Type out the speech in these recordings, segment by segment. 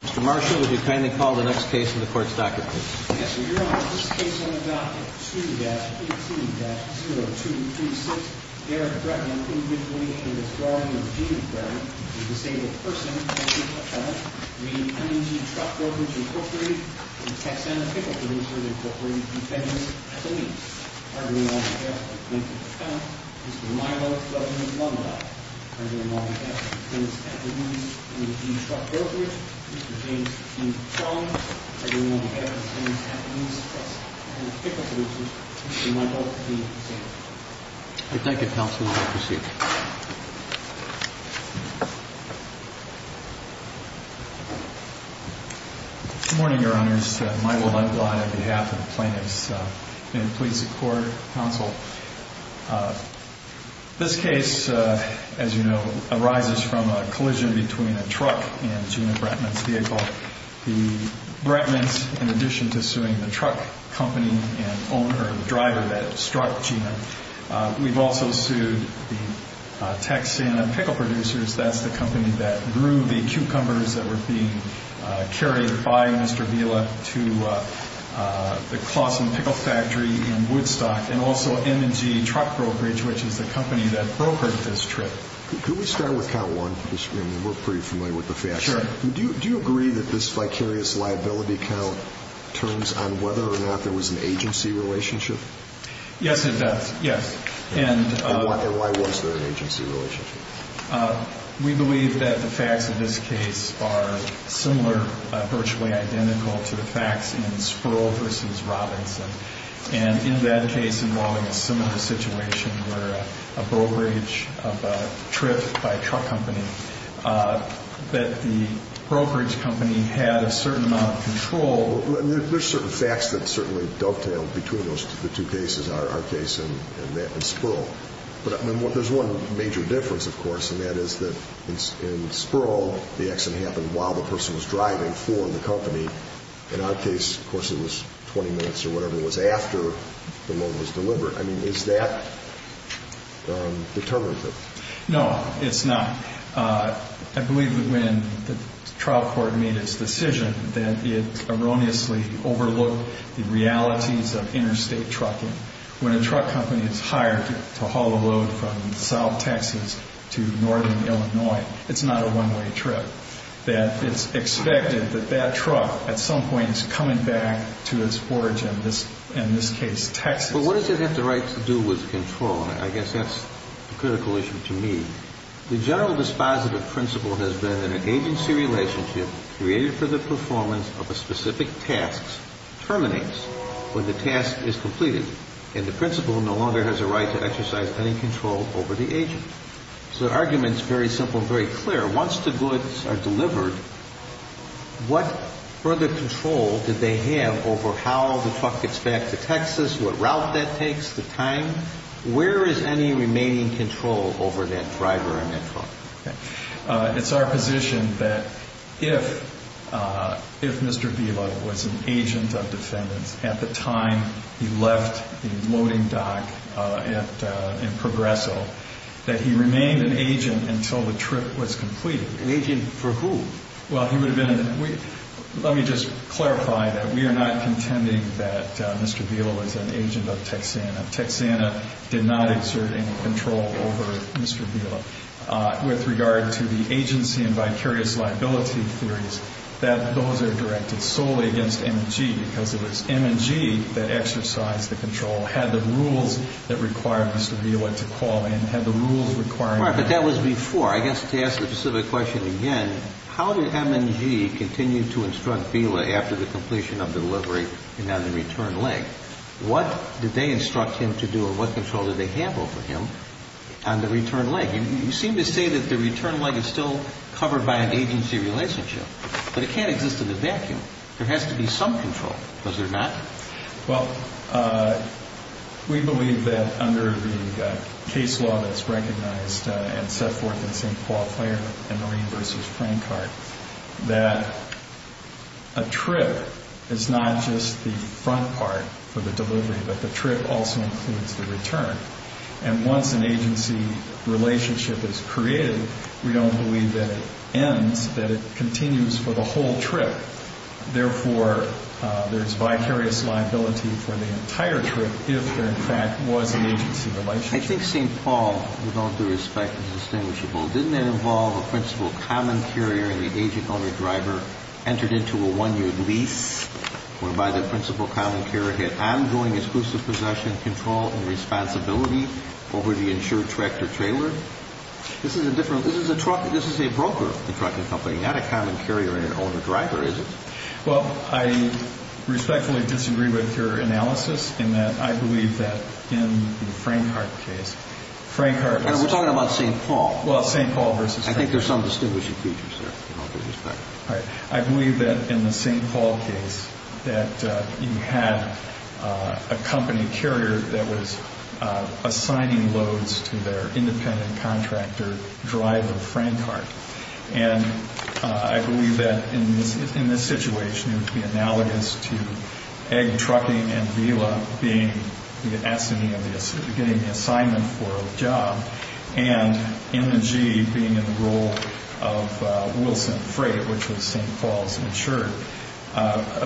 Mr. Marshall, would you kindly call the next case in the Court's docket, please? Yes, Your Honor. This case on the docket, 2-18-0236, Eric Bregman, individually in the withdrawing of Gene Bregman, a disabled person, M&G Truck Brokerage, Inc., and Texana Pickle Producer, Inc., defendants at the lease. Arguing on behalf of the plaintiff's account, Mr. Milo W. Lomita, arguing on behalf of defendants at the lease, M&G Truck Brokerage, Mr. James T. Chong, arguing on behalf of defendants at the lease, and Texana Pickle Producer, Mr. Milo T. Sanford. Thank you, counsel. You may proceed. Good morning, Your Honors. Milo Lundglai, on behalf of the plaintiffs. May it please the Court, Counsel. This case, as you know, arises from a collision between a truck and Gene Bregman's vehicle. The Bregmans, in addition to suing the truck company and owner or driver that struck Gene, we've also sued the Texana Pickle Producers, that's the company that grew the cucumbers that were being carried by Mr. Vila to the Claussen Pickle Factory in Woodstock, and also M&G Truck Brokerage, which is the company that brokered this trip. Could we start with count one? We're pretty familiar with the facts. Do you agree that this vicarious liability count turns on whether or not there was an agency relationship? Yes, it does. Yes. And why was there an agency relationship? We believe that the facts of this case are similar, virtually identical, to the facts in Sproul v. Robinson. And in that case involving a similar situation where a brokerage of a trip by a truck company, that the brokerage company had a certain amount of control. There's certain facts that certainly dovetail between the two cases, our case and that in Sproul. But there's one major difference, of course, and that is that in Sproul, the accident happened while the person was driving for the company. In our case, of course, it was 20 minutes or whatever it was after the load was delivered. I mean, is that determinative? No, it's not. I believe that when the trial court made its decision that it erroneously overlooked the realities of interstate trucking. When a truck company is hired to haul a load from south Texas to northern Illinois, it's not a one-way trip. That it's expected that that truck at some point is coming back to its origin, in this case Texas. But what does it have to do with control? I guess that's a critical issue to me. The general dispositive principle has been that an agency relationship created for the performance of a specific task terminates when the task is completed. And the principle no longer has a right to exercise any control over the agent. So the argument is very simple and very clear. Once the goods are delivered, what further control do they have over how the truck gets back to Texas, what route that takes, the time? Where is any remaining control over that driver and that truck? It's our position that if Mr. Vila was an agent of defendants at the time he left the loading dock in Progreso, that he remained an agent until the trip was completed. An agent for who? Well, he would have been... Let me just clarify that we are not contending that Mr. Vila was an agent of Texana. Texana did not exert any control over Mr. Vila. With regard to the agency and vicarious liability theories, that those are directed solely against M&G because it was M&G that exercised the control, had the rules that required Mr. Vila to call in, had the rules requiring... But that was before. I guess to ask the specific question again, how did M&G continue to instruct Vila after the completion of delivery and on the return leg? What did they instruct him to do and what control did they have over him on the return leg? You seem to say that the return leg is still covered by an agency relationship, but it can't exist in a vacuum. There has to be some control because there's not. Well, we believe that under the case law that's recognized and set forth in St. Paul Fire and Marine v. Frank Heart that a trip is not just the front part for the delivery, but the trip also includes the return. And once an agency relationship is created, we don't believe that it ends, that it continues for the whole trip. Therefore, there's vicarious liability for the entire trip if there, in fact, was an agency relationship. I think St. Paul, with all due respect, is distinguishable. Didn't it involve a principal common carrier and the agent-owner-driver entered into a one-year lease whereby the principal common carrier had ongoing exclusive possession, control, and responsibility over the insured tractor-trailer? This is a different... This is a broker, the trucking company, not a common carrier and an owner-driver, is it? Well, I respectfully disagree with your analysis in that I believe that in the Frank Heart case, Frank Heart... We're talking about St. Paul. Well, St. Paul v. Frank Heart. I think there's some distinguishing features there, with all due respect. I believe that in the St. Paul case that you had a company carrier that was assigning loads to their independent contractor driver, Frank Heart. And I believe that in this situation, it would be analogous to egg trucking and VILA being the assignee, getting the assignment for a job, and M&G being in the role of Wilson Freight, which was St. Paul's insured,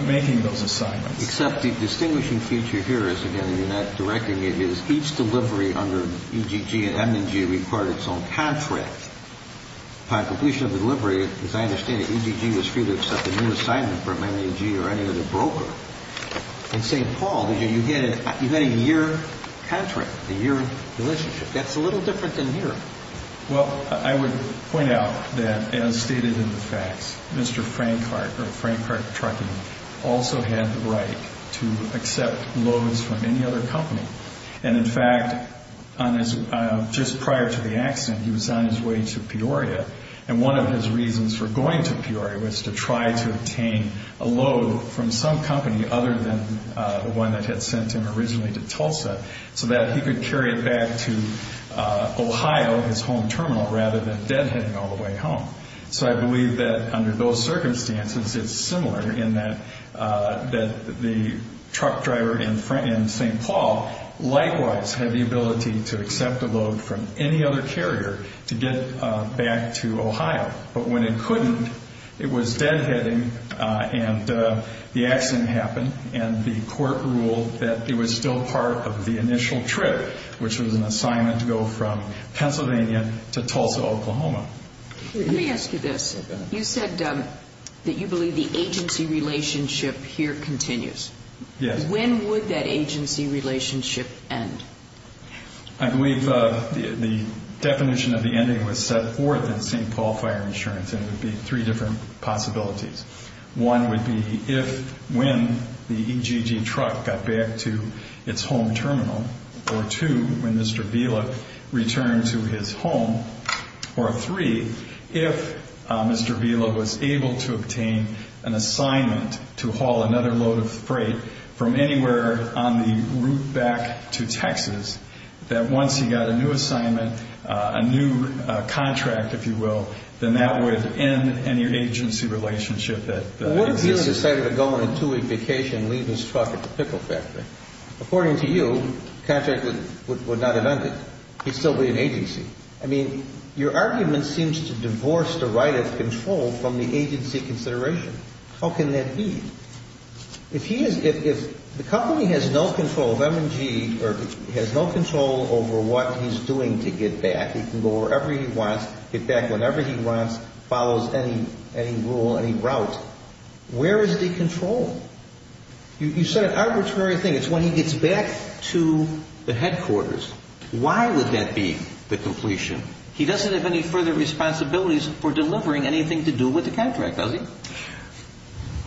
making those assignments. Except the distinguishing feature here is, again, you're not directing it, is each delivery under EGG and M&G required its own contract. Upon completion of the delivery, as I understand it, EGG was free to accept a new assignment from M&G or any other broker. In St. Paul, you get a year contract, a year relationship. That's a little different than here. Well, I would point out that, as stated in the facts, Mr. Frank Heart, or Frank Heart Trucking, also had the right to accept loads from any other company. And, in fact, just prior to the accident, he was on his way to Peoria, and one of his reasons for going to Peoria was to try to obtain a load from some company other than the one that had sent him originally to Tulsa so that he could carry it back to Ohio, his home terminal, rather than deadheading all the way home. So I believe that under those circumstances, it's similar in that the truck driver in St. Paul likewise had the ability to accept a load from any other carrier to get back to Ohio. But when it couldn't, it was deadheading, and the accident happened, and the court ruled that it was still part of the initial trip, which was an assignment to go from Pennsylvania to Tulsa, Oklahoma. Let me ask you this. You said that you believe the agency relationship here continues. Yes. When would that agency relationship end? I believe the definition of the ending was set forth in St. Paul Fire Insurance, and it would be three different possibilities. One would be when the EGG truck got back to its home terminal, or two, when Mr. Vela returned to his home, or three, if Mr. Vela was able to obtain an assignment to haul another load of freight from anywhere on the route back to Texas, that once he got a new assignment, a new contract, if you will, then that would end any agency relationship that existed. What if Vela decided to go on a two-week vacation and leave his truck at the pickle factory? According to you, the contract would not have ended. He'd still be an agency. I mean, your argument seems to divorce the right of control from the agency consideration. How can that be? If the company has no control of M&G, or has no control over what he's doing to get back, he can go wherever he wants, get back whenever he wants, follows any rule, any route, where is the control? You said an arbitrary thing. It's when he gets back to the headquarters. Why would that be the completion? He doesn't have any further responsibilities for delivering anything to do with the contract, does he?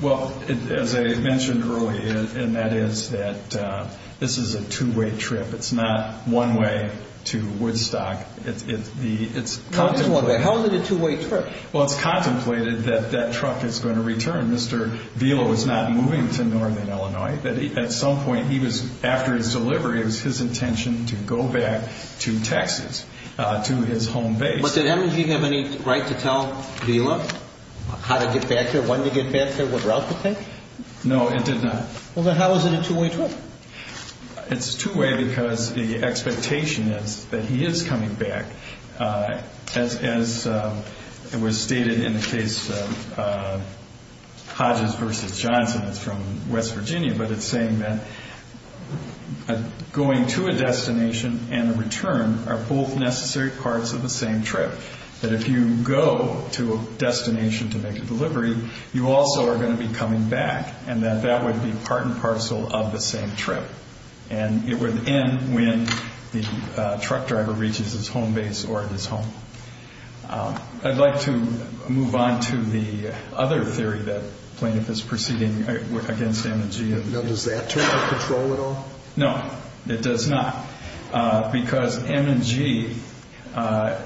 Well, as I mentioned earlier, and that is that this is a two-way trip. It's not one way to Woodstock. It's contemplated. How is it a two-way trip? Well, it's contemplated that that truck is going to return. Mr. Vela was not moving to northern Illinois. At some point, after his delivery, it was his intention to go back to Texas, to his home base. But did M&G have any right to tell Vela how to get back there, when to get back there, what route to take? No, it did not. Well, then how is it a two-way trip? It's two-way because the expectation is that he is coming back. As was stated in the case of Hodges v. Johnson, it's from West Virginia, but it's saying that going to a destination and a return are both necessary parts of the same trip, that if you go to a destination to make a delivery, you also are going to be coming back, and that that would be part and parcel of the same trip, and it would end when the truck driver reaches his home base or his home. I'd like to move on to the other theory that plaintiff is proceeding against M&G. Now, does that take control at all? No, it does not, because M&G had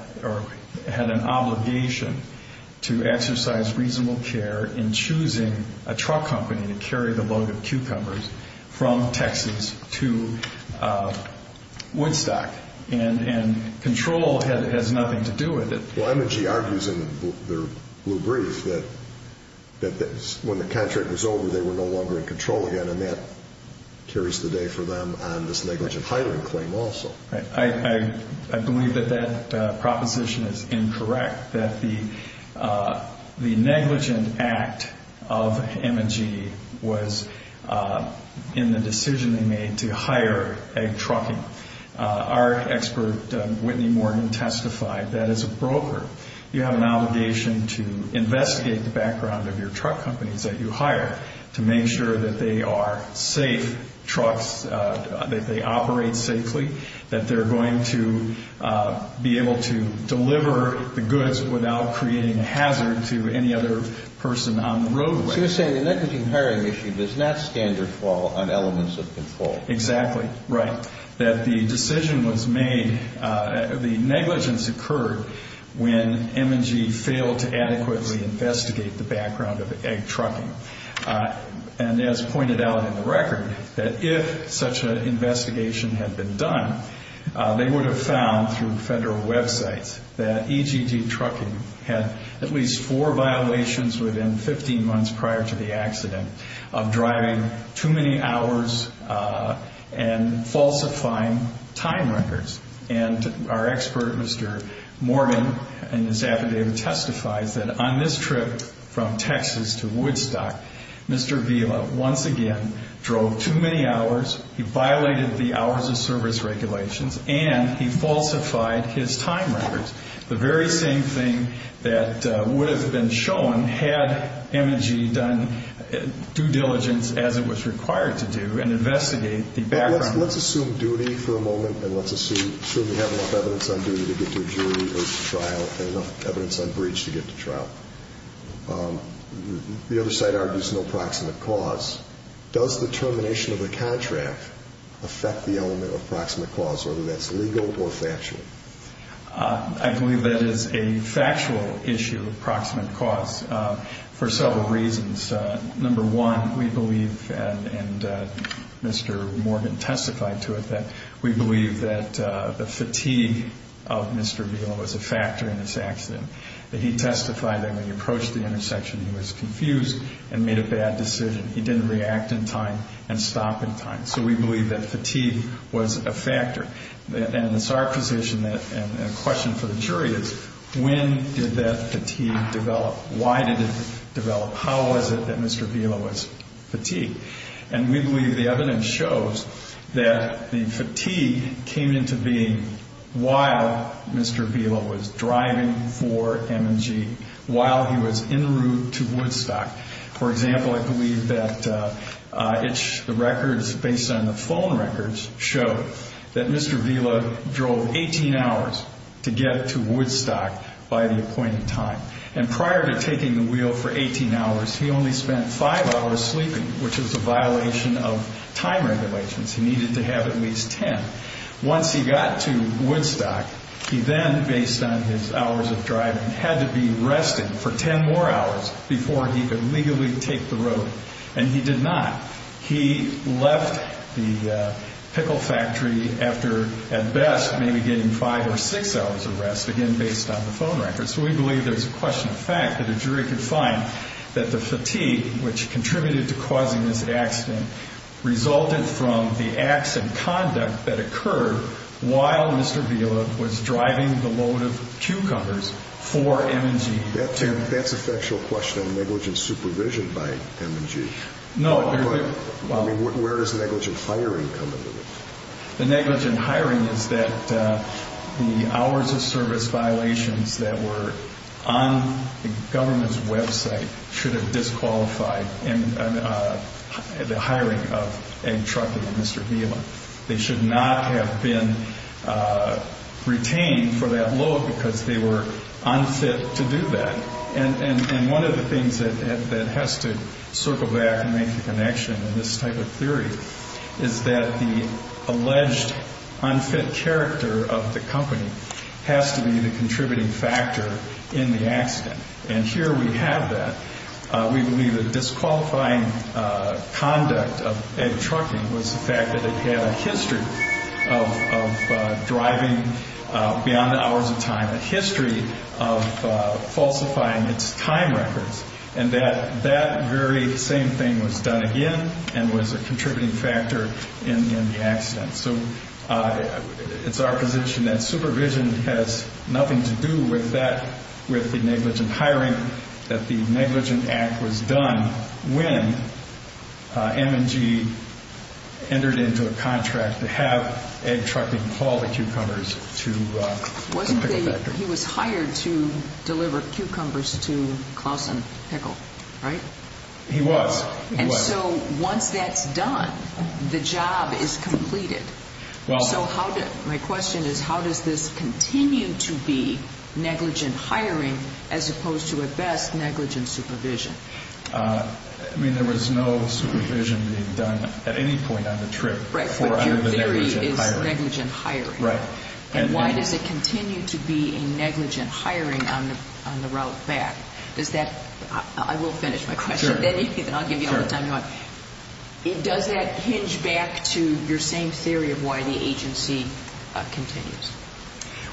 an obligation to exercise reasonable care in choosing a truck company to carry the load of cucumbers from Texas to Woodstock, and control has nothing to do with it. Well, M&G argues in their blue brief that when the contract was over, they were no longer in control again, and that carries the day for them on this negligent hiring claim also. I believe that that proposition is incorrect, that the negligent act of M&G was in the decision they made to hire a trucking. Our expert, Whitney Morgan, testified that as a broker, you have an obligation to investigate the background of your truck companies that you hire to make sure that they are safe trucks, that they operate safely, that they're going to be able to deliver the goods without creating a hazard to any other person on the roadway. So you're saying the negligent hiring issue does not stand or fall on elements of control. Exactly, right, that the decision was made, the negligence occurred when M&G failed to adequately investigate the background of egg trucking. And as pointed out in the record, that if such an investigation had been done, they would have found through federal websites that EGG Trucking had at least four violations within 15 months prior to the accident of driving too many hours and falsifying time records. And our expert, Mr. Morgan, in his affidavit testifies that on this trip from Texas to Woodstock, Mr. Vila once again drove too many hours, he violated the hours of service regulations, and he falsified his time records, the very same thing that would have been shown had M&G done due diligence as it was required to do and investigate the background. Let's assume duty for a moment, and let's assume you have enough evidence on duty to get to a jury or to trial and enough evidence on breach to get to trial. The other side argues no proximate cause. Does the termination of a contract affect the element of proximate cause, whether that's legal or factual? I believe that is a factual issue of proximate cause for several reasons. Number one, we believe, and Mr. Morgan testified to it, that we believe that the fatigue of Mr. Vila was a factor in this accident. He testified that when he approached the intersection, he was confused and made a bad decision. He didn't react in time and stop in time. So we believe that fatigue was a factor. And it's our position and a question for the jury is when did that fatigue develop? Why did it develop? How was it that Mr. Vila was fatigued? And we believe the evidence shows that the fatigue came into being while Mr. Vila was driving for M&G, while he was en route to Woodstock. For example, I believe that the records based on the phone records show that Mr. Vila drove 18 hours to get to Woodstock by the appointed time. And prior to taking the wheel for 18 hours, he only spent five hours sleeping, which was a violation of time regulations. He needed to have at least 10. Once he got to Woodstock, he then, based on his hours of driving, had to be resting for 10 more hours before he could legally take the road. And he did not. He left the pickle factory after, at best, maybe getting five or six hours of rest, again based on the phone records. So we believe there's a question of fact that a jury could find that the fatigue, which contributed to causing this accident, resulted from the acts and conduct that occurred while Mr. Vila was driving the load of cucumbers for M&G. That's a factual question on negligent supervision by M&G. No. I mean, where does negligent hiring come into this? The negligent hiring is that the hours of service violations that were on the government's website should have disqualified the hiring of Ed Truckee and Mr. Vila. They should not have been retained for that load because they were unfit to do that. And one of the things that has to circle back and make the connection in this type of theory is that the alleged unfit character of the company has to be the contributing factor in the accident. And here we have that. We believe that disqualifying conduct of Ed Truckee was the fact that it had a history of driving beyond the hours of time, a history of falsifying its time records, and that that very same thing was done again and was a contributing factor in the accident. So it's our position that supervision has nothing to do with the negligent hiring, that the negligent act was done when M&G entered into a contract to have Ed Truckee haul the cucumbers to Pickle Factory. He was hired to deliver cucumbers to Clausen Pickle, right? He was. And so once that's done, the job is completed. So my question is how does this continue to be negligent hiring as opposed to, at best, negligent supervision? I mean, there was no supervision being done at any point on the trip for the negligent hiring. But your theory is negligent hiring. Right. And why does it continue to be a negligent hiring on the route back? Does that ‑‑ I will finish my question. Sure. Then I'll give you all the time you want. Sure. Does that hinge back to your same theory of why the agency continues?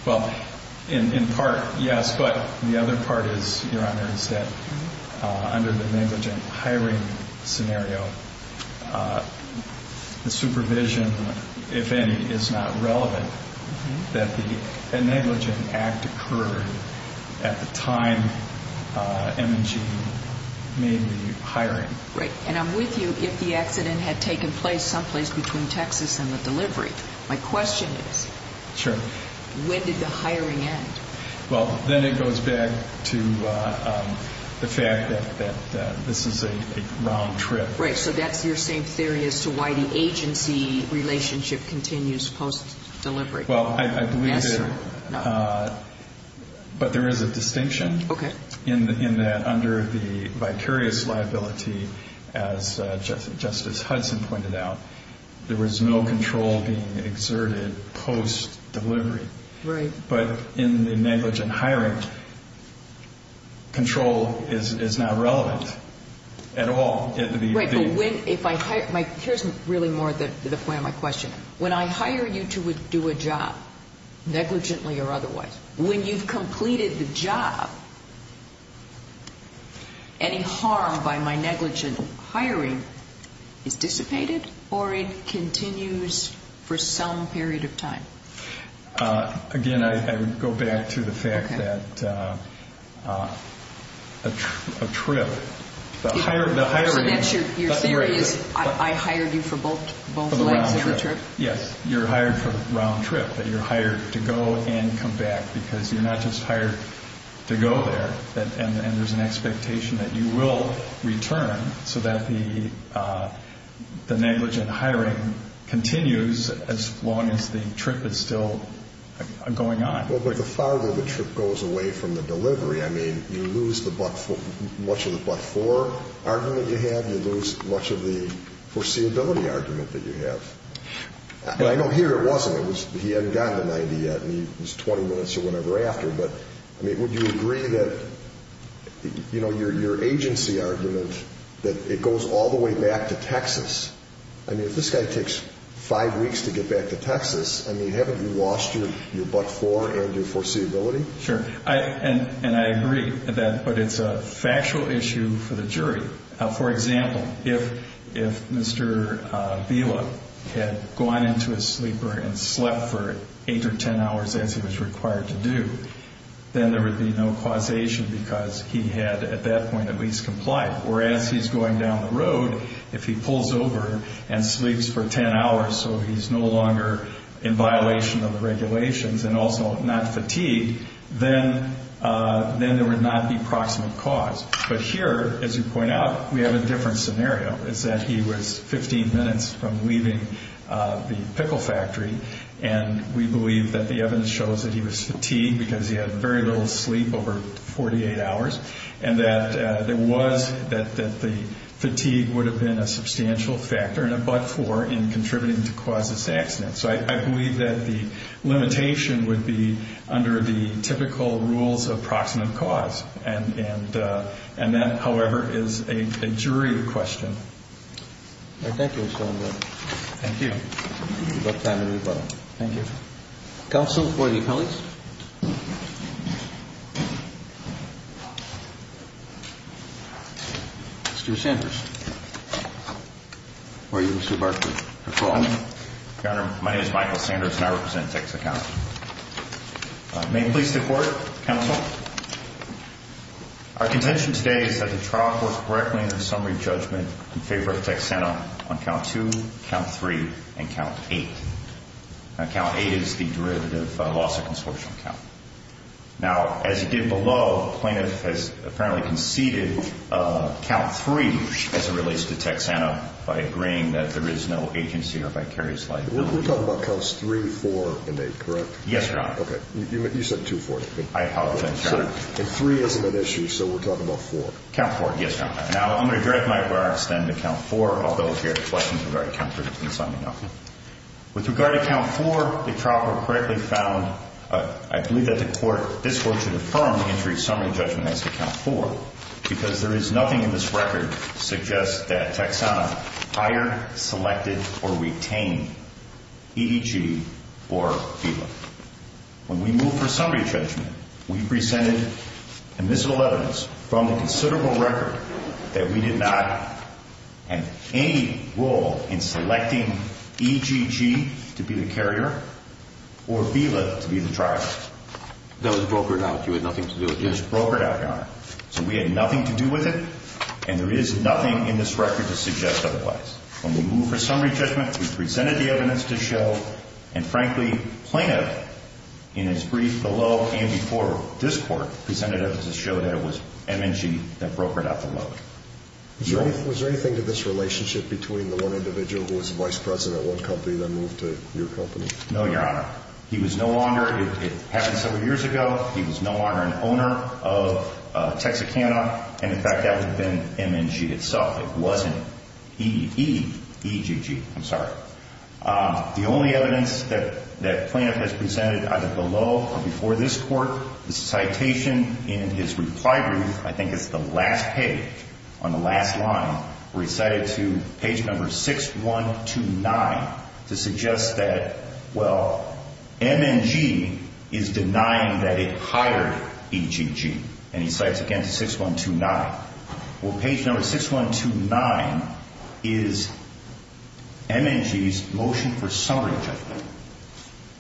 Well, in part, yes. But the other part is, Your Honor, is that under the negligent hiring scenario, the supervision, if any, is not relevant, that the negligent act occurred at the time M&G made the hiring. Right. And I'm with you if the accident had taken place someplace between Texas and the delivery. My question is when did the hiring end? Well, then it goes back to the fact that this is a round trip. Right. So that's your same theory as to why the agency relationship continues post‑delivery. Well, I believe it. Necessary? No. But there is a distinction. Okay. In that under the vicarious liability, as Justice Hudson pointed out, there was no control being exerted post‑delivery. Right. But in the negligent hiring, control is not relevant at all. Right. Here's really more the point of my question. When I hire you to do a job, negligently or otherwise, when you've completed the job, any harm by my negligent hiring is dissipated or it continues for some period of time? Again, I would go back to the fact that a trip, the hiring. So that's your theory is I hired you for both flights and the trip? Yes. You're hired for round trip. You're hired to go and come back because you're not just hired to go there. And there's an expectation that you will return so that the negligent hiring continues as long as the trip is still going on. Well, but the farther the trip goes away from the delivery, I mean, you lose much of the but‑for argument you have. You lose much of the foreseeability argument that you have. But I know here it wasn't. He hadn't gotten to 90 yet and he was 20 minutes or whatever after. But, I mean, would you agree that your agency argument that it goes all the way back to Texas, I mean, if this guy takes five weeks to get back to Texas, I mean, haven't you lost your but‑for and your foreseeability? Sure. And I agree. But it's a factual issue for the jury. For example, if Mr. Vila had gone into his sleeper and slept for eight or ten hours as he was required to do, then there would be no causation because he had at that point at least complied. Whereas he's going down the road, if he pulls over and sleeps for ten hours so he's no longer in violation of the regulations and also not fatigued, then there would not be proximate cause. But here, as you point out, we have a different scenario. It's that he was 15 minutes from leaving the pickle factory and we believe that the evidence shows that he was fatigued because he had very little sleep over 48 hours and that there was ‑‑ that the fatigue would have been a substantial factor and a but‑for in contributing to cause this accident. So I believe that the limitation would be under the typical rules of proximate cause. And that, however, is a jury question. All right. Thank you so much. Thank you. We've got time to move on. Thank you. Counsel for the accomplished. Mr. Sanders. Where are you, Mr. Barkley? My name is Michael Sanders and I represent Texas County. May I please report, counsel? Our contention today is that the trial was correctly in the summary judgment in favor of Texanna on count two, count three, and count eight. Now, count eight is the derivative loss of consortium count. Now, as you did below, the plaintiff has apparently conceded count three as it relates to Texanna by agreeing that there is no agency or vicarious liability. We're talking about counts three, four, and eight, correct? Yes, Your Honor. Okay. You said two, four. I apologize, Your Honor. And three isn't an issue, so we're talking about four. Count four. Yes, Your Honor. Now, I'm going to direct my remarks then to count four, although here the questions are very counterintuitive. With regard to count four, the trial court correctly found, I believe that the court, this court should affirm the injury summary judgment as to count four because there is nothing in this record that suggests that Texanna hired, selected, or retained EGG or VILA. When we moved for summary judgment, we presented admissible evidence from a considerable record that we did not have any role in selecting EGG to be the carrier or VILA to be the trial. That was brokered out. You had nothing to do with this. It was brokered out, Your Honor. So we had nothing to do with it, and there is nothing in this record to suggest otherwise. When we moved for summary judgment, we presented the evidence to show, and frankly plaintiff in his brief below and before this court presented evidence to show that it was M&G that brokered out the loan. Was there anything to this relationship between the one individual who was vice president at one company then moved to your company? No, Your Honor. He was no longer, it happened several years ago, he was no longer an owner of Texicana, and in fact that would have been M&G itself. It wasn't EGG, I'm sorry. The only evidence that plaintiff has presented either below or before this court, the citation in his reply brief, I think it's the last page on the last line, where he cited to page number 6129 to suggest that, well, M&G is denying that it hired EGG, and he cites again to 6129. Well, page number 6129 is M&G's motion for summary judgment,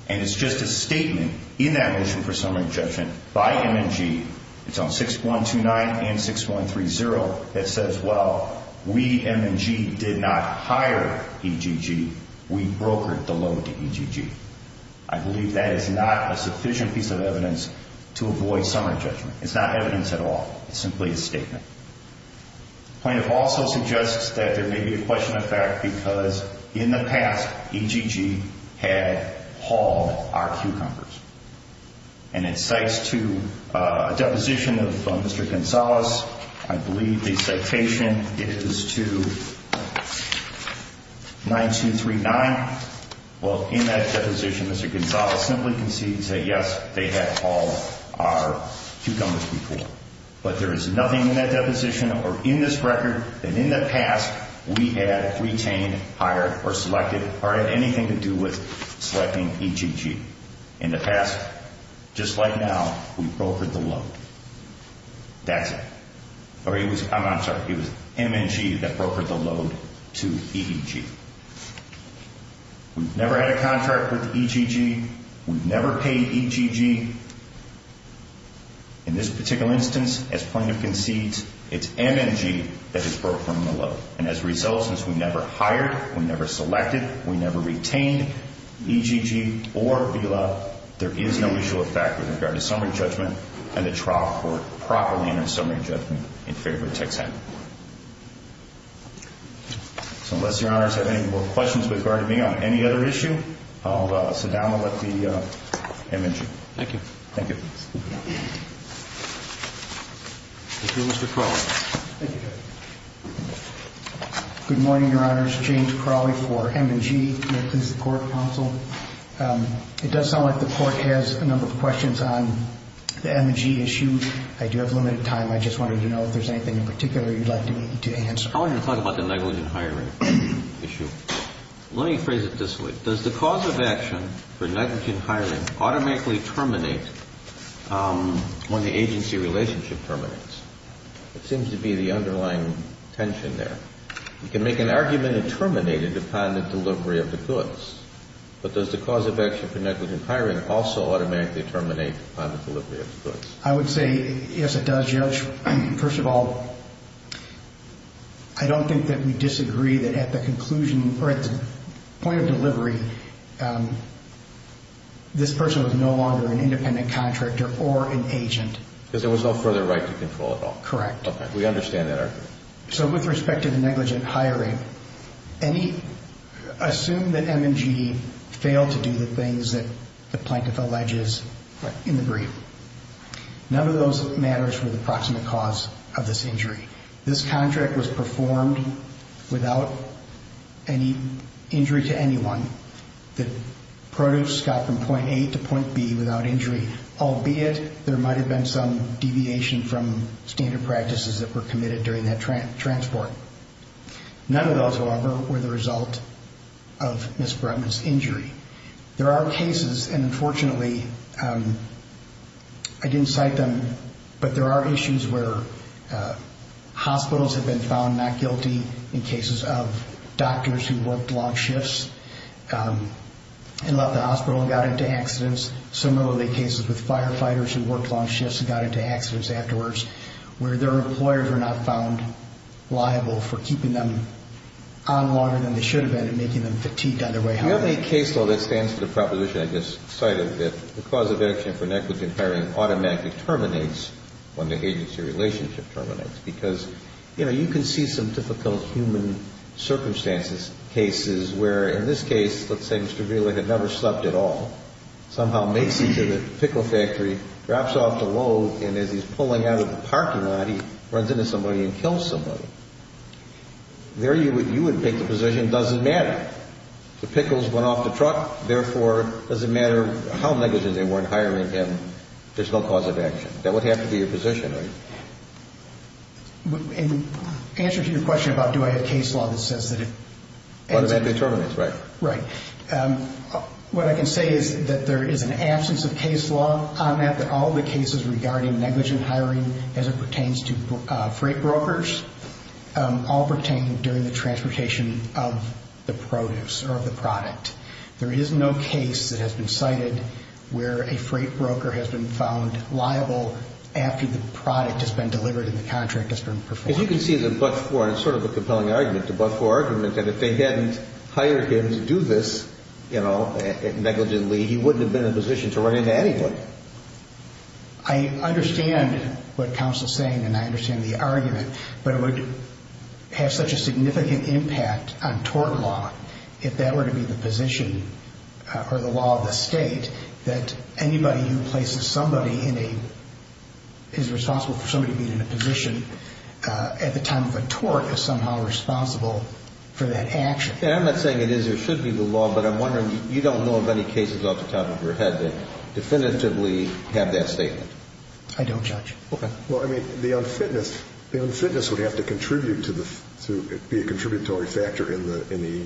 and it's just a statement in that motion for summary judgment by M&G, it's on 6129 and 6130 that says, well, we, M&G, did not hire EGG, we brokered the loan to EGG. I believe that is not a sufficient piece of evidence to avoid summary judgment. It's not evidence at all. It's simply a statement. The plaintiff also suggests that there may be a question of fact because in the past EGG had hauled our cucumbers, and it cites to a deposition of Mr. Gonzales. I believe the citation is to 9239. Well, in that deposition, Mr. Gonzales simply concedes that, yes, they had hauled our cucumbers before, but there is nothing in that deposition or in this record that in the past we had retained, hired, or selected, or had anything to do with selecting EGG. In the past, just like now, we brokered the loan. That's it. I'm sorry. It was M&G that brokered the loan to EGG. We've never had a contract with EGG. We've never paid EGG. In this particular instance, as plaintiff concedes, it's M&G that has brokered the loan, and as a result, since we never hired, we never selected, we never retained EGG or VILA, there is no issue of fact with regard to summary judgment, and the trial court properly entered summary judgment in favor of Texan. So unless Your Honors have any more questions regarding me on any other issue, I'll sit down and let the M&G. Thank you. Thank you. Thank you, Mr. Crowley. Thank you, Judge. Good morning, Your Honors. James Crowley for M&G. May it please the Court, counsel. It does sound like the Court has a number of questions on the M&G issue. I do have limited time. I just wanted to know if there's anything in particular you'd like to answer. I want to talk about the negligent hiring issue. Let me phrase it this way. Does the cause of action for negligent hiring automatically terminate when the agency relationship terminates? It seems to be the underlying tension there. You can make an argument it terminated upon the delivery of the goods, but does the cause of action for negligent hiring also automatically terminate upon the delivery of the goods? I would say, yes, it does, Judge. First of all, I don't think that we disagree that at the conclusion or at the point of delivery, this person was no longer an independent contractor or an agent. Because there was no further right to control at all? Correct. Okay. We understand that argument. With respect to the negligent hiring, assume that M&G failed to do the things that the plaintiff alleges in the brief. None of those matters were the proximate cause of this injury. This contract was performed without any injury to anyone. The produce got from point A to point B without injury, albeit there might have been some deviation from standard practices that were committed during that transport. None of those, however, were the result of Ms. Brutman's injury. There are cases, and unfortunately I didn't cite them, but there are issues where hospitals have been found not guilty in cases of doctors who worked long shifts and left the hospital and got into accidents. Similarly, cases with firefighters who worked long shifts and got into accidents afterwards, where their employers were not found liable for keeping them on longer than they should have been and making them fatigued on their way home. Now, do you have any case, though, that stands to the proposition I just cited, that the cause of action for negligent hiring automatically terminates when the agency relationship terminates? Because, you know, you can see some difficult human circumstances, cases where, in this case, let's say Mr. Wheeler had never slept at all, somehow makes it to the pickle factory, drops off the load, and as he's pulling out of the parking lot, he runs into somebody and kills somebody. There you would pick the position, doesn't matter. The pickles went off the truck, therefore, it doesn't matter how negligent they weren't hiring him, there's no cause of action. That would have to be your position, right? In answer to your question about do I have case law that says that if... It automatically terminates, right. Right. What I can say is that there is an absence of case law on that, that all the cases regarding negligent hiring as it pertains to freight brokers all pertain during the transportation of the produce or of the product. There is no case that has been cited where a freight broker has been found liable after the product has been delivered and the contract has been performed. As you can see, the but-for is sort of a compelling argument, the but-for argument that if they hadn't hired him to do this, you know, negligently, he wouldn't have been in a position to run into anyone. I understand what counsel is saying and I understand the argument, but it would have such a significant impact on tort law if that were to be the position or the law of the state that anybody who places somebody in a... is responsible for somebody being in a position at the time of a tort is somehow responsible for that action. I'm not saying it is or should be the law, but I'm wondering, you don't know of any cases off the top of your head that definitively have that statement. I don't, Judge. Okay. Well, I mean, the unfitness would have to contribute to the... be a contributory factor in the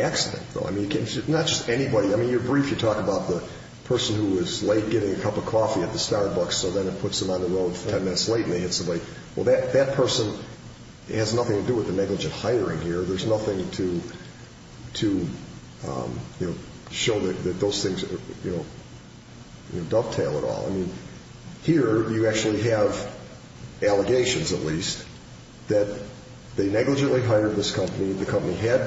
accident, though. I mean, not just anybody. I mean, you're brief. You talk about the person who was late getting a cup of coffee at the Starbucks, so then it puts them on the road 10 minutes late and they hit somebody. Well, that person has nothing to do with the negligent hiring here. There's nothing to show that those things dovetail at all. I mean, here you actually have allegations, at least, that they negligently hired this company. The company had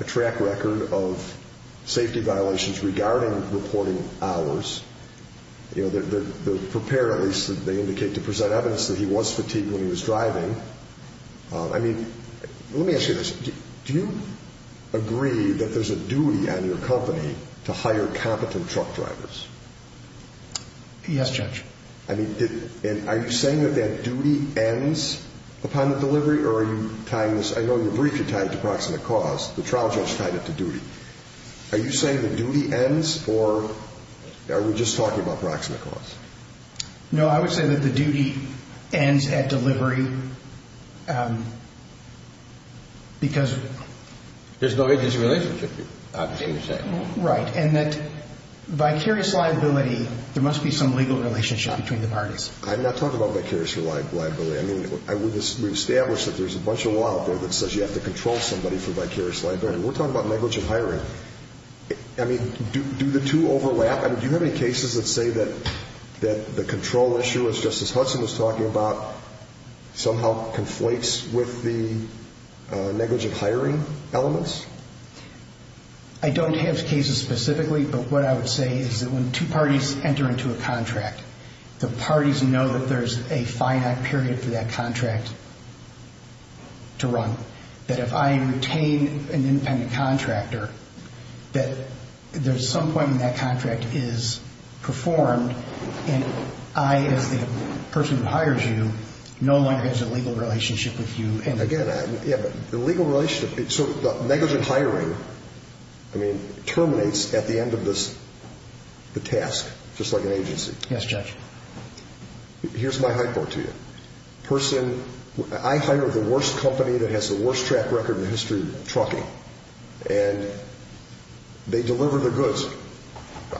a track record of safety violations regarding reporting hours. They're prepared, at least, they indicate, to present evidence that he was fatigued when he was driving. I mean, let me ask you this. Do you agree that there's a duty on your company to hire competent truck drivers? Yes, Judge. I mean, are you saying that that duty ends upon the delivery, or are you tying this? I know you're brief. You tied it to proximate cause. The trial judge tied it to duty. Are you saying the duty ends, or are we just talking about proximate cause? No, I would say that the duty ends at delivery because— There's no agency relationship, you're saying. Right, and that vicarious liability, there must be some legal relationship between the parties. I'm not talking about vicarious liability. I mean, we've established that there's a bunch of law out there that says you have to control somebody for vicarious liability. We're talking about negligent hiring. I mean, do the two overlap? Do you have any cases that say that the control issue, as Justice Hudson was talking about, somehow conflates with the negligent hiring elements? I don't have cases specifically, but what I would say is that when two parties enter into a contract, the parties know that there's a finite period for that contract to run, that if I retain an independent contractor, that there's some point when that contract is performed and I, as the person who hires you, no longer has a legal relationship with you. Again, yeah, but the legal relationship, so the negligent hiring terminates at the end of the task, just like an agency. Yes, Judge. Here's my high court to you. I hire the worst company that has the worst track record in the history of trucking, and they deliver the goods.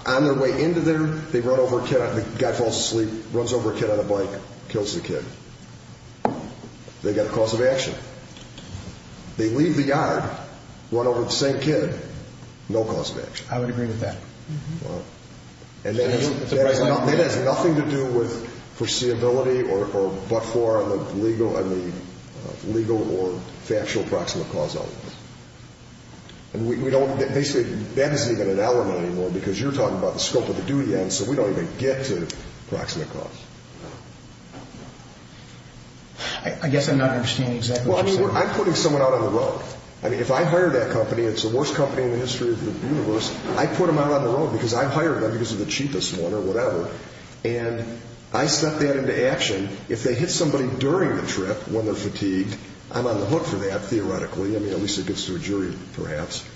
On their way into there, they run over a kid, the guy falls asleep, runs over a kid on a bike, kills the kid. They've got a cause of action. They leave the yard, run over the same kid, no cause of action. I would agree with that. And that has nothing to do with foreseeability or but-for on the legal or factual proximate cause elements. And we don't, basically, that isn't even an element anymore because you're talking about the scope of the duty, and so we don't even get to proximate cause. I guess I'm not understanding exactly what you're saying. Well, I mean, I'm putting someone out on the road. I mean, if I hire that company, it's the worst company in the history of the universe. I put them out on the road because I hired them because they're the cheapest one or whatever, and I set that into action. If they hit somebody during the trip when they're fatigued, I'm on the hook for that, theoretically. I mean, at least it gets to a jury, perhaps.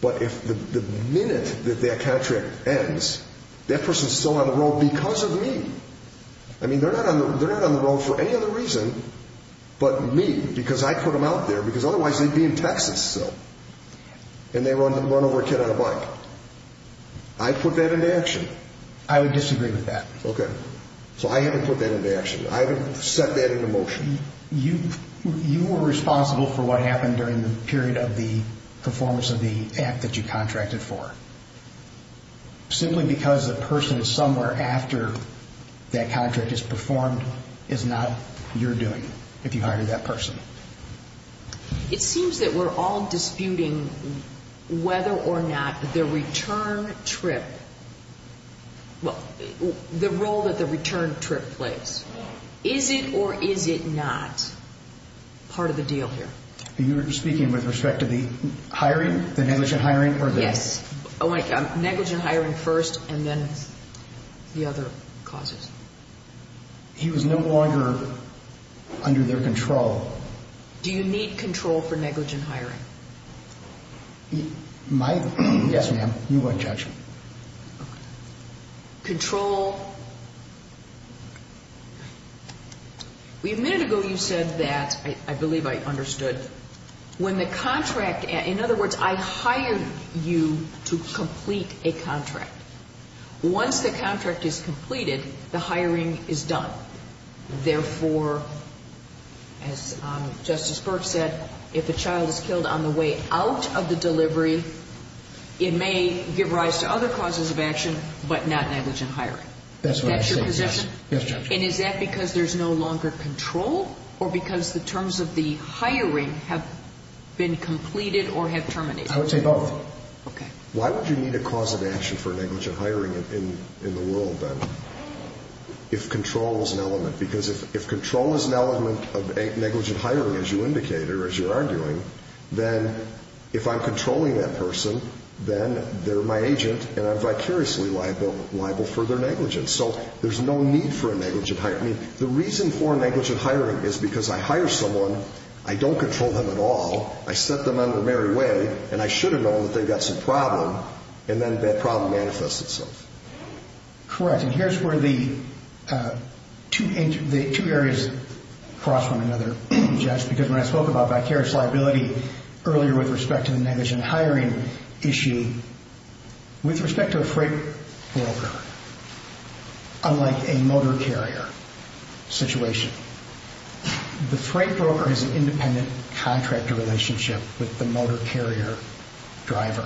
But if the minute that that contract ends, that person's still on the road because of me. I mean, they're not on the road for any other reason but me because I put them out there because otherwise they'd be in Texas still. And they run over a kid on a bike. I put that into action. I would disagree with that. Okay. So I haven't put that into action. I haven't set that into motion. You were responsible for what happened during the period of the performance of the act that you contracted for. Simply because the person somewhere after that contract is performed is not your doing if you hired that person. It seems that we're all disputing whether or not the return trip, well, the role that the return trip plays. Is it or is it not part of the deal here? You're speaking with respect to the hiring, the negligent hiring? Yes. Negligent hiring first and then the other causes. He was no longer under their control. Do you need control for negligent hiring? Yes, ma'am. You're welcome, Judge. Okay. Control. A minute ago you said that, I believe I understood, when the contract, in other words, I hired you to complete a contract. Once the contract is completed, the hiring is done. Therefore, as Justice Burke said, if a child is killed on the way out of the delivery, it may give rise to other causes of action but not negligent hiring. That's what I'm saying. That's your position? Yes, Judge. And is that because there's no longer control or because the terms of the hiring have been completed or have terminated? I would say both. Okay. Why would you need a cause of action for negligent hiring in the world then if control is an element? Because if control is an element of negligent hiring, as you indicated, or as you're arguing, then if I'm controlling that person, then they're my agent and I'm vicariously liable for their negligence. So there's no need for a negligent hiring. The reason for negligent hiring is because I hire someone, I don't control them at all, I set them under Mary Way, and I should have known that they've got some problem, and then that problem manifests itself. Correct. And here's where the two areas cross one another, Judge, because when I spoke about vicarious liability earlier with respect to the negligent hiring issue, with respect to a freight broker, unlike a motor carrier situation, the freight broker has an independent contractor relationship with the motor carrier driver.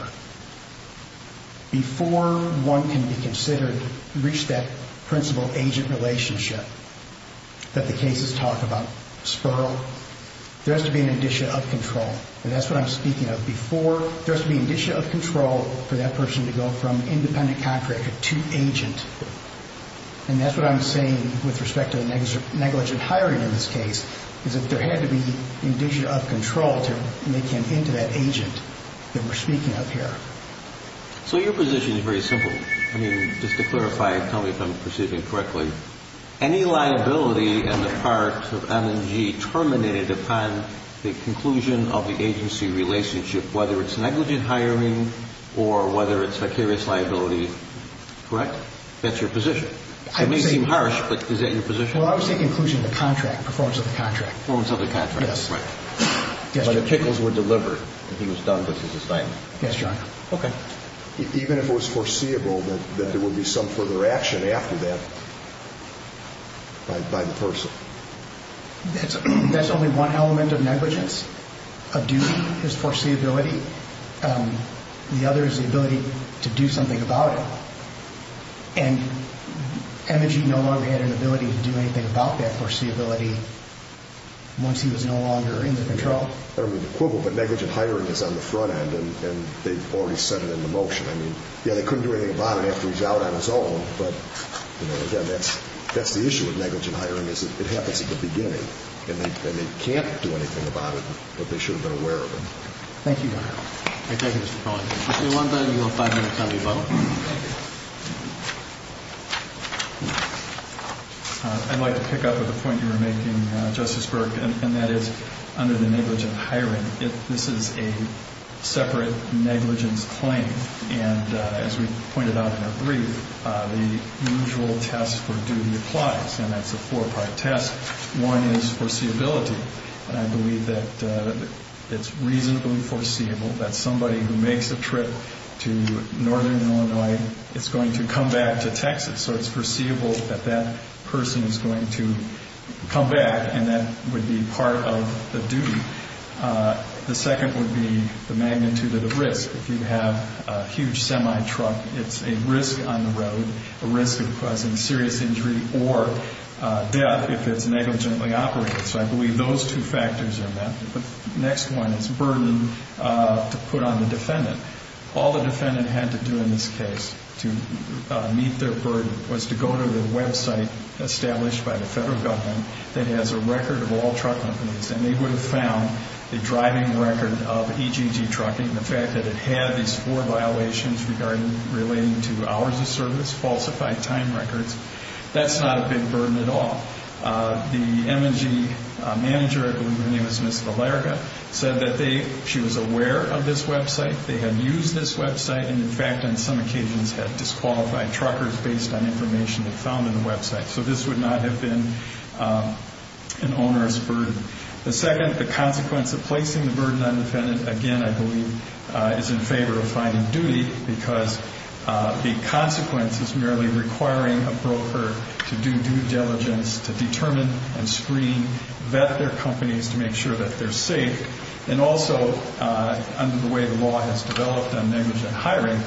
Before one can be considered, reach that principal-agent relationship that the cases talk about, SPURL, there has to be an addition of control, and that's what I'm speaking of. Before there has to be an addition of control for that person to go from independent contractor to agent, and that's what I'm saying with respect to negligent hiring in this case, is that there had to be an addition of control to make him into that agent that we're speaking of here. So your position is very simple. I mean, just to clarify, tell me if I'm perceiving it correctly. Any liability in the parts of M&G terminated upon the conclusion of the agency relationship, whether it's negligent hiring or whether it's vicarious liability, correct? That's your position. It may seem harsh, but is that your position? Well, I would say conclusion of the contract, performance of the contract. Performance of the contract. Yes. But the tickles were delivered. He was done with his assignment. Yes, John. Okay. Even if it was foreseeable that there would be some further action after that by the person? That's only one element of negligence. A duty is foreseeability. The other is the ability to do something about it. And M&G no longer had an ability to do anything about that foreseeability once he was no longer in the control? I don't mean to quibble, but negligent hiring is on the front end, and they've already sent it into motion. I mean, yeah, they couldn't do anything about it after he's out on his own, but, you know, again, that's the issue with negligent hiring is it happens at the beginning, and they can't do anything about it, but they should have been aware of it. Thank you, John. Thank you, Mr. Cohen. If you want that, you have five minutes on your phone. I'd like to pick up at the point you were making, Justice Burke, and that is under the negligent hiring, this is a separate negligence claim, and as we pointed out in our brief, the usual test for duty applies, and that's a four-part test. One is foreseeability, and I believe that it's reasonably foreseeable that somebody who makes a trip to northern Illinois is going to come back to Texas, so it's foreseeable that that person is going to come back, and that would be part of the duty. The second would be the magnitude of the risk. If you have a huge semi-truck, it's a risk on the road, a risk of causing serious injury or death if it's negligently operated, so I believe those two factors are met. The next one is burden to put on the defendant. All the defendant had to do in this case to meet their burden was to go to the website established by the federal government that has a record of all truck companies, and they would have found the driving record of EGG trucking, the fact that it had these four violations relating to hours of service, falsified time records, that's not a big burden at all. The M&G manager, I believe her name is Ms. Valerica, said that she was aware of this website, they had used this website, and in fact on some occasions had disqualified truckers based on information they found on the website, so this would not have been an onerous burden. The second, the consequence of placing the burden on the defendant, again I believe is in favor of finding duty because the consequence is merely requiring a broker to do due diligence to determine and screen, vet their companies to make sure that they're safe, and also under the way the law has developed on negligent hiring,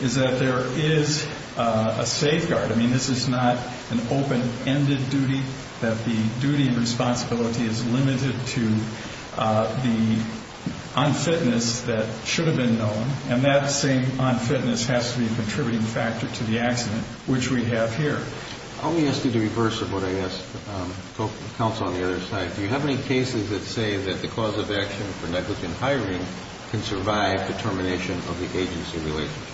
is that there is a safeguard. I mean this is not an open-ended duty, that the duty and responsibility is limited to the unfitness that should have been known, and that same unfitness has to be a contributing factor to the accident, which we have here. Let me ask you the reverse of what I asked the counsel on the other side. Do you have any cases that say that the cause of action for negligent hiring can survive the termination of the agency relationship?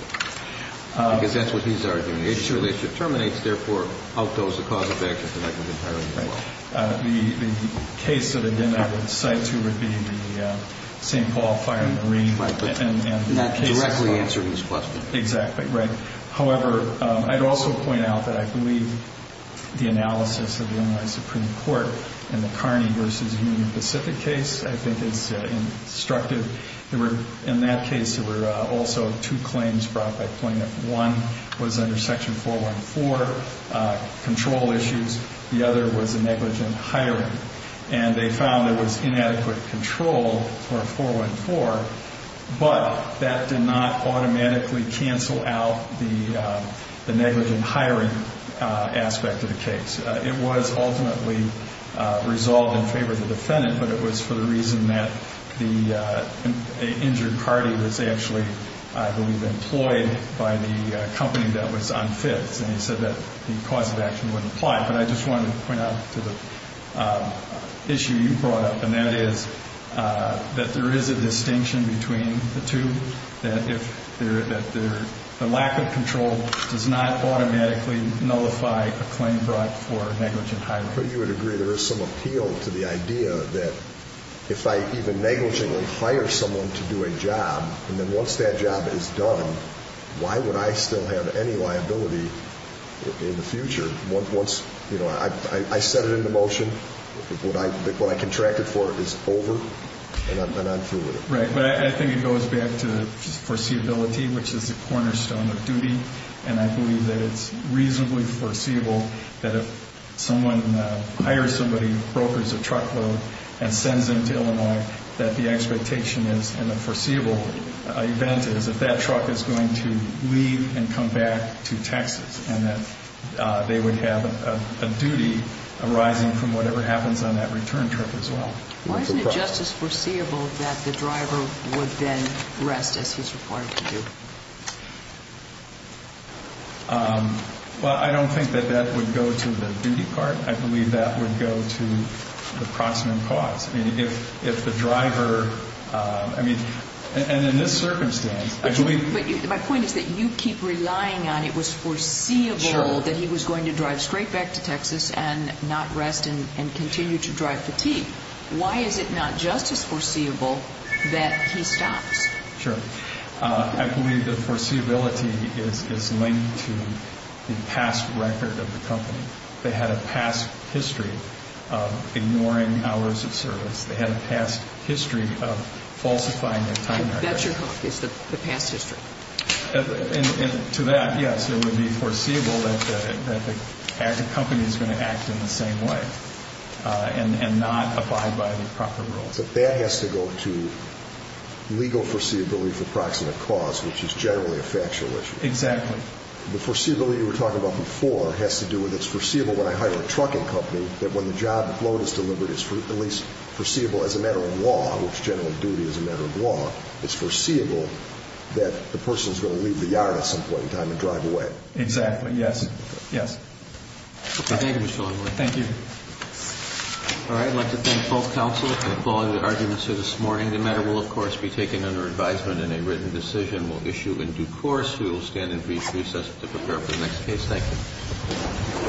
Because that's what he's arguing, the agency relationship terminates, therefore outgoes the cause of action for negligent hiring as well. The case that again I would cite would be the St. Paul Fire and Marine. Not directly answering his question. Exactly, right. However, I'd also point out that I believe the analysis of the Illinois Supreme Court in the Kearney v. Union Pacific case I think is instructive. In that case there were also two claims brought by plaintiff. One was under Section 414, control issues. The other was negligent hiring. And they found there was inadequate control for 414, but that did not automatically cancel out the negligent hiring aspect of the case. It was ultimately resolved in favor of the defendant, but it was for the reason that the injured party was actually, I believe, employed by the company that was unfit. And he said that the cause of action wouldn't apply. But I just wanted to point out to the issue you brought up, and that is that there is a distinction between the two, that the lack of control does not automatically nullify a claim brought for negligent hiring. You would agree there is some appeal to the idea that if I even negligently hire someone to do a job, and then once that job is done, why would I still have any liability in the future? Once I set it into motion, what I contracted for is over, and I'm through with it. Right. But I think it goes back to foreseeability, which is the cornerstone of duty. And I believe that it's reasonably foreseeable that if someone hires somebody, brokers a truckload, and sends them to Illinois, that the expectation is and the foreseeable event is that that truck is going to leave and come back to Texas and that they would have a duty arising from whatever happens on that return trip as well. Why isn't it just as foreseeable that the driver would then rest as he's required to do? Well, I don't think that that would go to the duty part. I believe that would go to the proximate cause. I mean, if the driver, I mean, and in this circumstance, I believe. But my point is that you keep relying on it was foreseeable that he was going to drive straight back to Texas and not rest and continue to drive fatigue. Why is it not just as foreseeable that he stops? Sure. I believe that foreseeability is linked to the past record of the company. They had a past history of ignoring hours of service. They had a past history of falsifying their time record. And that's your hope, is the past history. And to that, yes, it would be foreseeable that the company is going to act in the same way and not abide by the proper rules. But that has to go to legal foreseeability for proximate cause, which is generally a factual issue. Exactly. The foreseeability you were talking about before has to do with it's foreseeable when I hire a trucking company that when the job load is delivered, it's at least foreseeable as a matter of law, which general duty is a matter of law. It's foreseeable that the person is going to leave the yard at some point in time and drive away. Exactly. Yes. Yes. Thank you, Mr. Longworth. Thank you. All right. I'd like to thank both counsel for calling the arguments here this morning. The matter will, of course, be taken under advisement in a written decision. We'll issue in due course. We will stand in recess to prepare for the next case. Thank you.